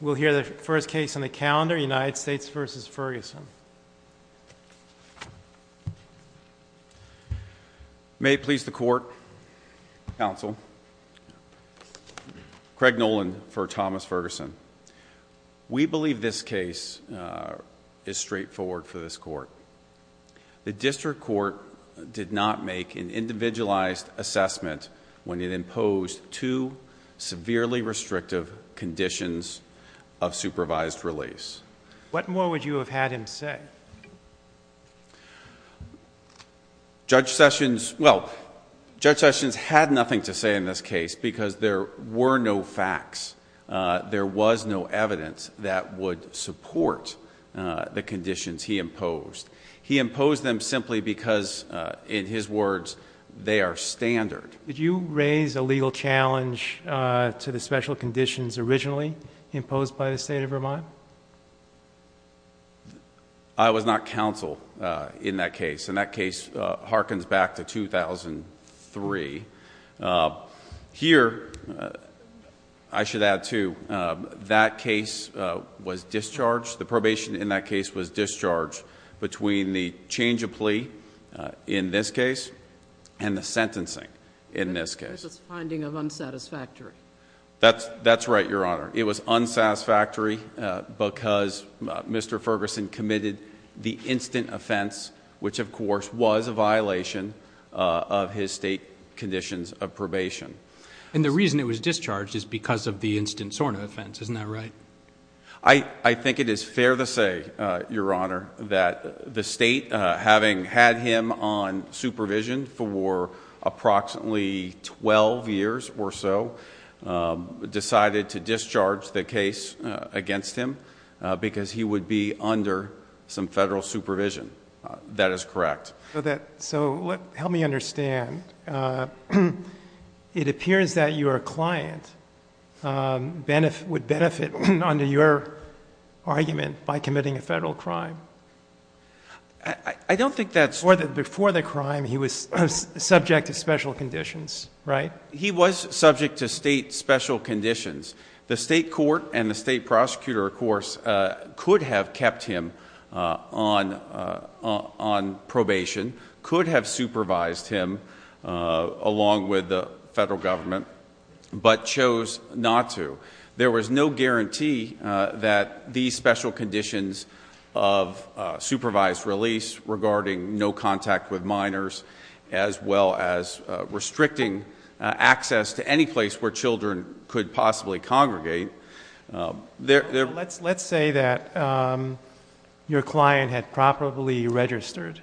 We'll hear the first case on the calendar, United States v. Ferguson. May it please the Court, Counsel, Craig Nolan for Thomas Ferguson. We believe this case is straightforward for this Court. The District Court did not make an individualized assessment when it imposed two severely restrictive conditions of supervised release. What more would you have had him say? Judge Sessions had nothing to say in this case because there were no facts. There was no evidence that would support the conditions he imposed. He imposed them simply because, in his words, they are standard. Did you raise a legal challenge to the special conditions originally imposed by the State of Vermont? I was not counsel in that case, and that case harkens back to 2003. Here, I should add, too, that case was discharged, the probation in that case was discharged between the change of plea in this case and the sentencing in this case. This was a finding of unsatisfactory. That's right, Your Honor. It was unsatisfactory because Mr. Ferguson committed the instant offense, which, of course, was a violation of his state conditions of probation. And the reason it was discharged is because of the instant SORNA offense, isn't that right? I think it is fair to say, Your Honor, that the state, having had him on supervision for approximately 12 years or so, decided to discharge the case against him because he would be under some federal supervision. That is correct. So help me understand. It appears that your client would benefit under your argument by committing a federal crime. I don't think that's true. Before the crime, he was subject to special conditions, right? He was subject to state special conditions. The state court and the state prosecutor, of course, could have kept him on probation, could have supervised him along with the federal government, but chose not to. There was no guarantee that these special conditions of supervised release, regarding no contact with minors, as well as restricting access to any place where children could possibly congregate. Let's say that your client had properly registered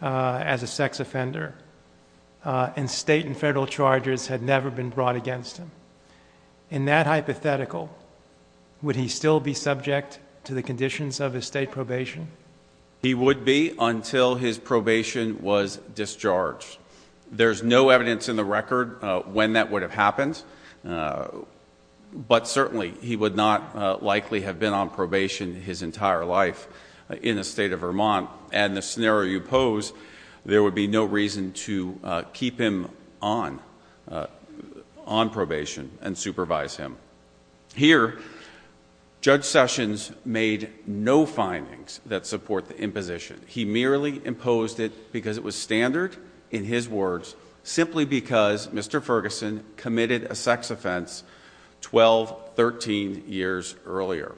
as a sex offender, and state and federal charges had never been brought against him. In that hypothetical, would he still be subject to the conditions of his state probation? He would be until his probation was discharged. There's no evidence in the record when that would have happened, but certainly he would not likely have been on probation his entire life in the state of Vermont. And the scenario you pose, there would be no reason to keep him on probation and supervise him. Here, Judge Sessions made no findings that support the imposition. He merely imposed it because it was standard, in his words, simply because Mr. Ferguson committed a sex offense 12, 13 years earlier.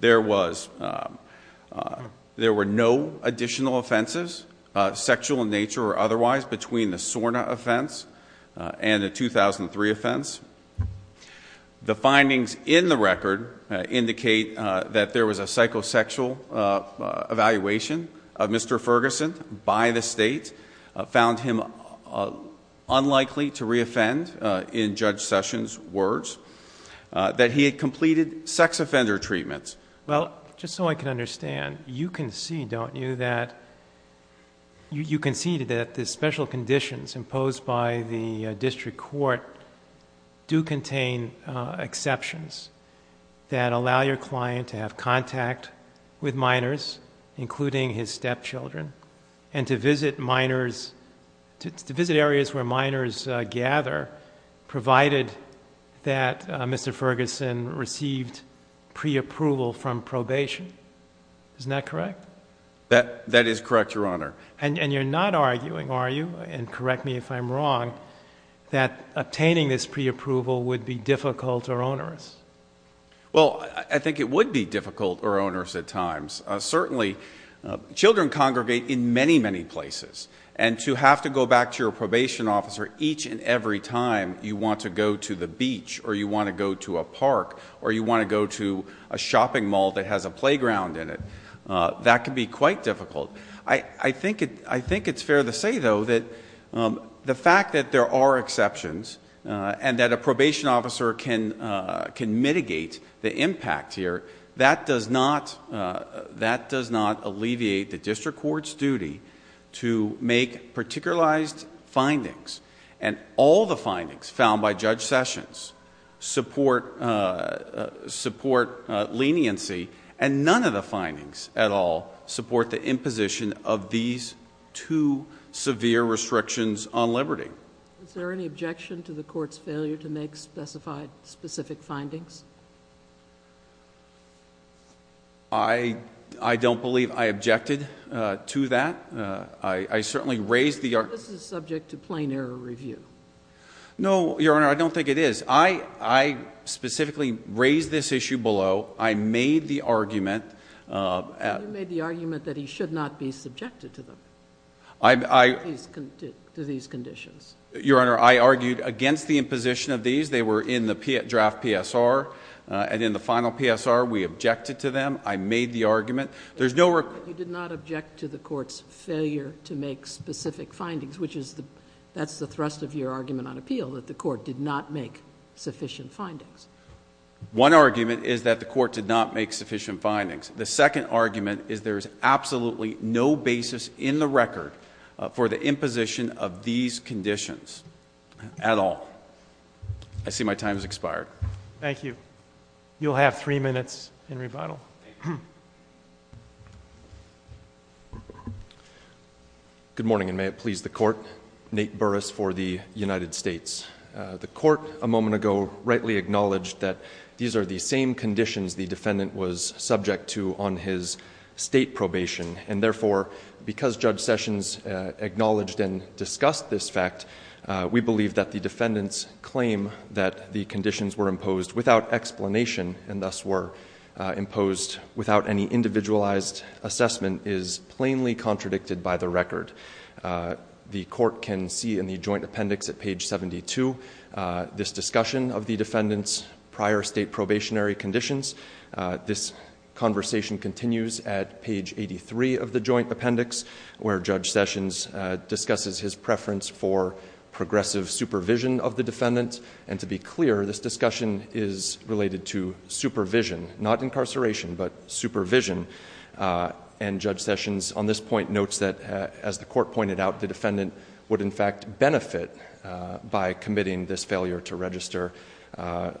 There were no additional offenses, sexual in nature or otherwise, between the SORNA offense and the 2003 offense. The findings in the record indicate that there was a psychosexual evaluation of Mr. Ferguson by the state, found him unlikely to re-offend, in Judge Sessions' words, that he had completed sex offender treatments. Well, just so I can understand, you concede, don't you, that the special conditions imposed by the district court do contain exceptions that allow your client to have contact with minors, including his stepchildren, and to visit areas where minors gather, provided that Mr. Ferguson received pre-approval from probation. Isn't that correct? That is correct, Your Honor. And you're not arguing, are you, and correct me if I'm wrong, that obtaining this pre-approval would be difficult or onerous? Well, I think it would be difficult or onerous at times. Certainly, children congregate in many, many places. And to have to go back to your probation officer each and every time you want to go to the beach, or you want to go to a park, or you want to go to a shopping mall that has a playground in it, that can be quite difficult. I think it's fair to say, though, that the fact that there are exceptions and that a probation officer can mitigate the impact here, that does not alleviate the district court's duty to make particularized findings. And all the findings found by Judge Sessions support leniency, and none of the findings at all support the imposition of these two severe restrictions on liberty. Is there any objection to the court's failure to make specified, specific findings? I don't believe I objected to that. I certainly raised the- This is subject to plain error review. No, Your Honor, I don't think it is. I specifically raised this issue below. I made the argument- You made the argument that he should not be subjected to them, to these conditions. Your Honor, I argued against the imposition of these. They were in the draft PSR, and in the final PSR, we objected to them. I made the argument. There's no- You did not object to the court's failure to make specific findings, which is the, that's the thrust of your argument on appeal, that the court did not make sufficient findings. One argument is that the court did not make sufficient findings. The second argument is there's absolutely no basis in the record for the imposition of these conditions at all. I see my time has expired. Thank you. You'll have three minutes in rebuttal. Good morning, and may it please the court. Nate Burris for the United States. The court, a moment ago, rightly acknowledged that these are the same conditions the defendant was subject to on his state probation, and therefore, because Judge Sessions acknowledged and discussed this fact, we believe that the defendant's claim that the conditions were imposed without explanation, and thus were imposed without any individualized assessment, is plainly contradicted by the record. The court can see in the joint appendix at page 72, this discussion of the defendant's prior state probationary conditions. This conversation continues at page 83 of the joint appendix, where Judge Sessions discusses his preference for progressive supervision of the defendant. And to be clear, this discussion is related to supervision, not incarceration, but supervision. And Judge Sessions, on this point, notes that, as the court pointed out, the defendant would in fact benefit by committing this failure to register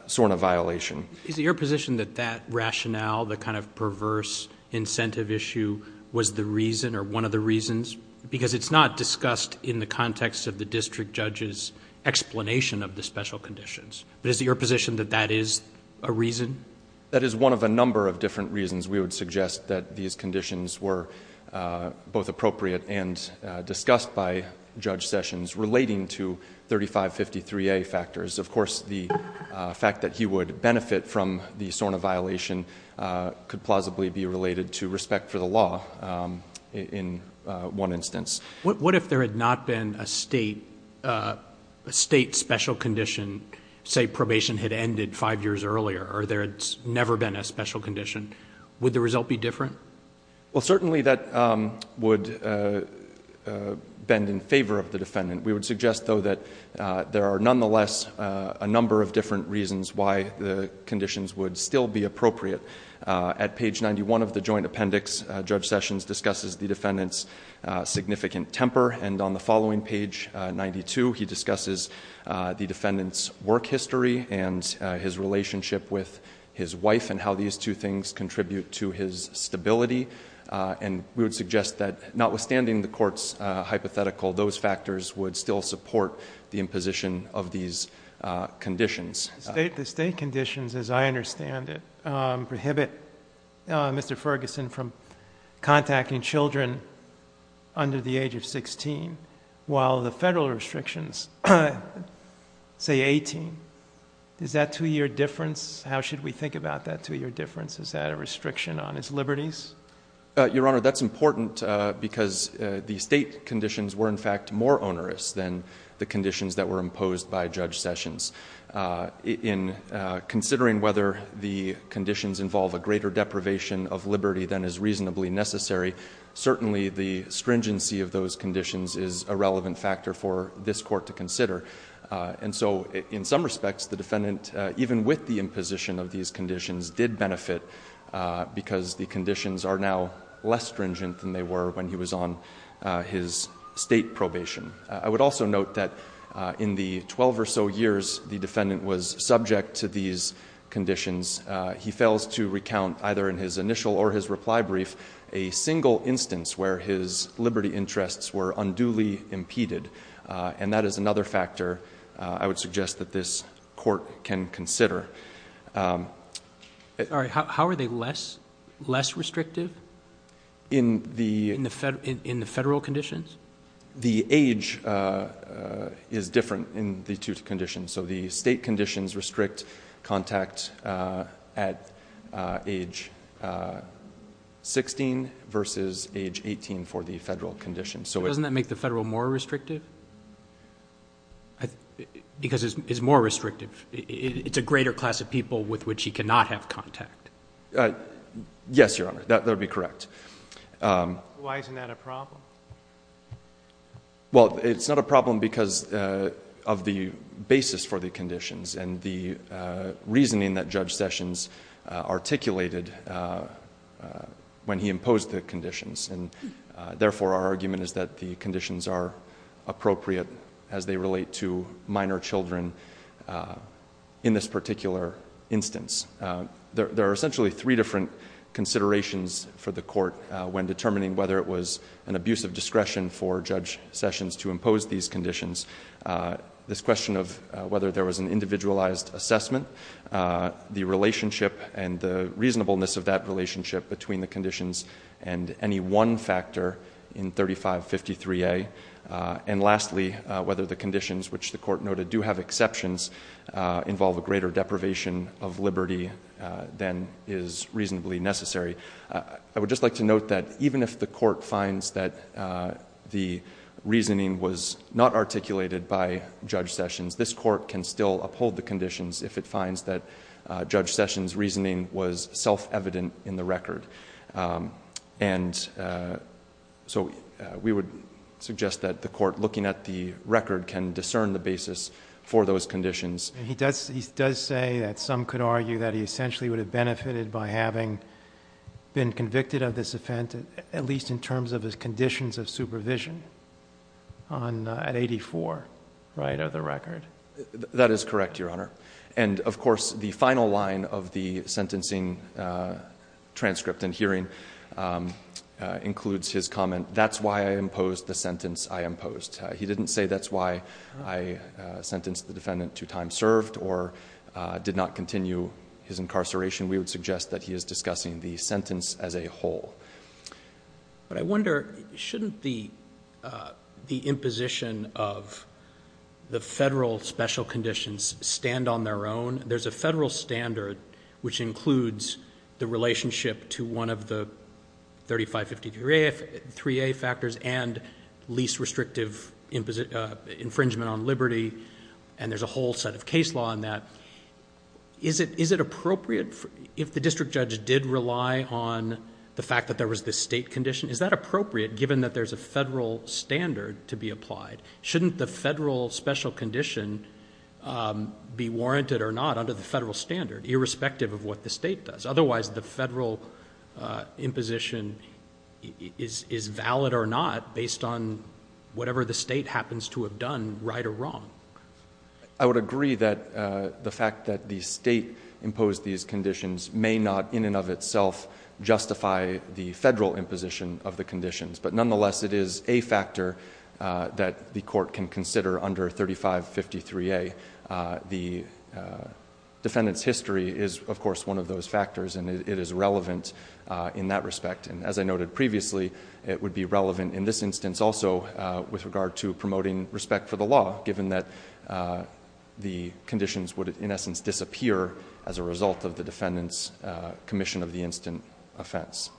sort of violation. Is it your position that that rationale, the kind of perverse incentive issue, was the reason or one of the reasons? Because it's not discussed in the context of the district judge's explanation of the special conditions, but is it your position that that is a reason? That is one of a number of different reasons we would suggest that these conditions were both appropriate and discussed by Judge Sessions relating to 3553A factors. Of course, the fact that he would benefit from the SORNA violation could plausibly be related to respect for the law in one instance. What if there had not been a state special condition, say probation had ended five years earlier? Or there had never been a special condition, would the result be different? Well, certainly that would bend in favor of the defendant. We would suggest, though, that there are nonetheless a number of different reasons why the conditions would still be appropriate. At page 91 of the joint appendix, Judge Sessions discusses the defendant's significant temper. And on the following page, 92, he discusses the defendant's work history and his relationship with his wife and how these two things contribute to his stability. And we would suggest that notwithstanding the court's hypothetical, those factors would still support the imposition of these conditions. The state conditions, as I understand it, prohibit Mr. Ferguson from contacting children under the age of 16, while the federal restrictions say 18. Is that two year difference? How should we think about that two year difference? Is that a restriction on his liberties? Your Honor, that's important because the state conditions were in fact more onerous than the conditions that were imposed by Judge Sessions. In considering whether the conditions involve a greater deprivation of liberty than is reasonably necessary, certainly the stringency of those conditions is a relevant factor for this court to consider. And so in some respects, the defendant, even with the imposition of these conditions, did benefit because the conditions are now less stringent than they were when he was on his state probation. I would also note that in the 12 or so years the defendant was subject to these conditions, he fails to recount either in his initial or his reply brief a single instance where his liberty interests were unduly impeded. And that is another factor I would suggest that this court can consider. All right, how are they less restrictive? In the- In the federal conditions? The age is different in the two conditions. So the state conditions restrict contact at age 16 versus age 18 for the federal conditions. So it- Doesn't that make the federal more restrictive? Because it's more restrictive. It's a greater class of people with which he cannot have contact. Yes, Your Honor. That would be correct. Why isn't that a problem? Well, it's not a problem because of the basis for the conditions and the reasoning that Judge Sessions articulated when he imposed the conditions. And therefore, our argument is that the conditions are appropriate as they relate to minor children in this particular instance. There are essentially three different considerations for the court when determining whether it was an abuse of discretion for Judge Sessions to impose these conditions. This question of whether there was an individualized assessment, the relationship and the reasonableness of that relationship between the conditions, and any one factor in 3553A. And lastly, whether the conditions which the court noted do have exceptions involve a greater deprivation of liberty than is reasonably necessary. I would just like to note that even if the court finds that the reasoning was not articulated by Judge Sessions, this court can still uphold the conditions if it finds that Judge Sessions' reasoning was self-evident in the record. And so we would suggest that the court, looking at the record, can discern the basis for those conditions. He does say that some could argue that he essentially would have benefited by having been convicted of this offense, at least in terms of his conditions of supervision, at 84, right of the record. That is correct, Your Honor. And of course, the final line of the sentencing transcript and hearing includes his comment, that's why I imposed the sentence I imposed. He didn't say that's why I sentenced the defendant to time served or did not continue his incarceration. We would suggest that he is discussing the sentence as a whole. But I wonder, shouldn't the imposition of the federal special conditions stand on their own? There's a federal standard which includes the relationship to one of the 3553A factors and least restrictive infringement on liberty, and there's a whole set of case law on that. Is it appropriate, if the district judge did rely on the fact that there was this state condition, is that appropriate given that there's a federal standard to be applied? Shouldn't the federal special condition be warranted or not under the federal standard, irrespective of what the state does? Otherwise, the federal imposition is valid or not based on whatever the state happens to have done, right or wrong. I would agree that the fact that the state imposed these conditions may not in and of itself justify the federal imposition of the conditions. But nonetheless, it is a factor that the court can consider under 3553A. The defendant's history is of course one of those factors and it is relevant in that respect. And as I noted previously, it would be relevant in this instance also with regard to promoting respect for the law given that the conditions would in essence disappear as a result of the defendant's commission of the instant offense.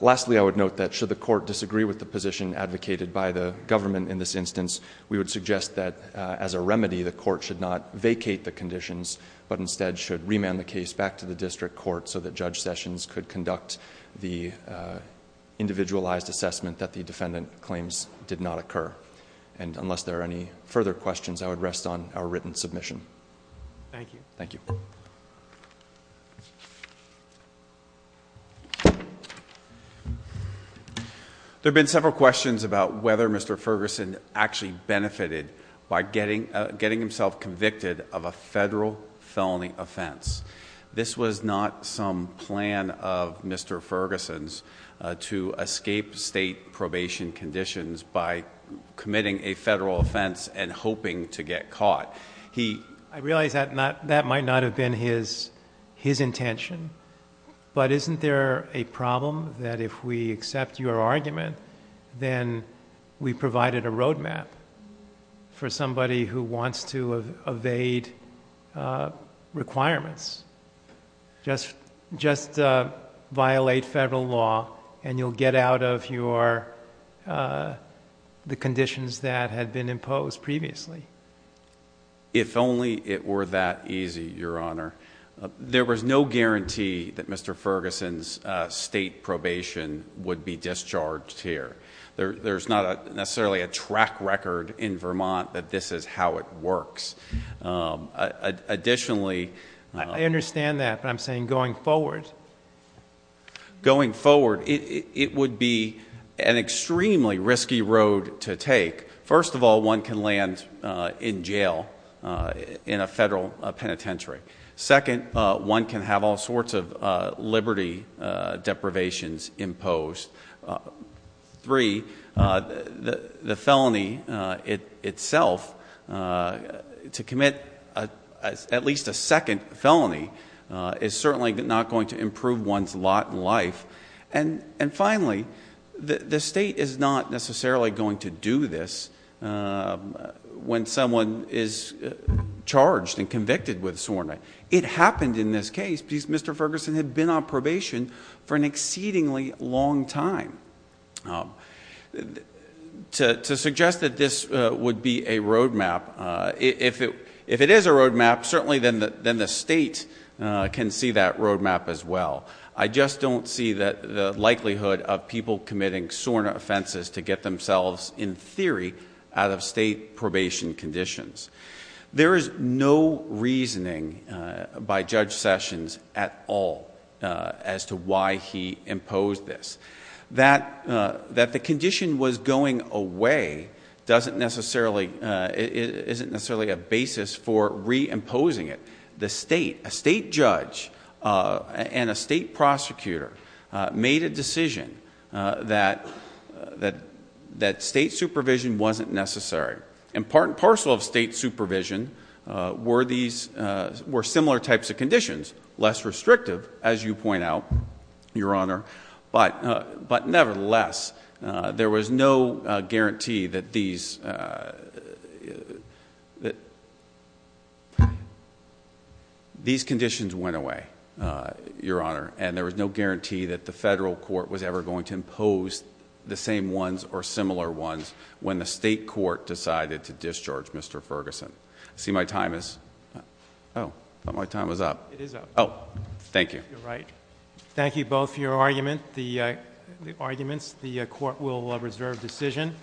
Lastly, I would note that should the court disagree with the position advocated by the government in this instance, we would suggest that as a remedy, the court should not vacate the conditions, but instead should remand the case back to the district court so that Judge Sessions could conduct the individualized assessment that the defendant claims did not occur. And unless there are any further questions, I would rest on our written submission. Thank you. Thank you. There have been several questions about whether Mr. Ferguson actually benefited by getting himself convicted of a federal felony offense. This was not some plan of Mr. Ferguson's to escape state probation conditions by committing a federal offense and hoping to get caught. He- I realize that might not have been his intention. But isn't there a problem that if we accept your argument, then we provided a road map for somebody who wants to evade requirements. Just violate federal law and you'll get out of your, the conditions that had been imposed previously. If only it were that easy, your honor. There was no guarantee that Mr. Ferguson's state probation would be discharged here. There's not necessarily a track record in Vermont that this is how it works. Additionally- I understand that, but I'm saying going forward. Going forward, it would be an extremely risky road to take. First of all, one can land in jail in a federal penitentiary. Second, one can have all sorts of liberty deprivations imposed. Three, the felony itself, to commit at least a second felony is certainly not going to improve one's lot in life. And finally, the state is not necessarily going to do this when someone is charged and convicted with soreness. It happened in this case because Mr. Ferguson had been on probation for an exceedingly long time. To suggest that this would be a road map, if it is a road map, certainly then the state can see that road map as well. I just don't see the likelihood of people committing soreness offenses to get themselves, in theory, out of state probation conditions. There is no reasoning by Judge Sessions at all as to why he imposed this. That the condition was going away isn't necessarily a basis for re-imposing it. The state, a state judge and a state prosecutor made a decision that state supervision wasn't necessary. And part and parcel of state supervision were similar types of conditions, less restrictive, as you point out, your honor. But nevertheless, there was no guarantee that these conditions went away, your honor. And there was no guarantee that the federal court was ever going to impose the same ones or similar ones when the state court decided to discharge Mr. Ferguson. I see my time is, I thought my time was up. It is up. Thank you. You're right. Thank you both for your argument, the arguments. The court will reserve decision.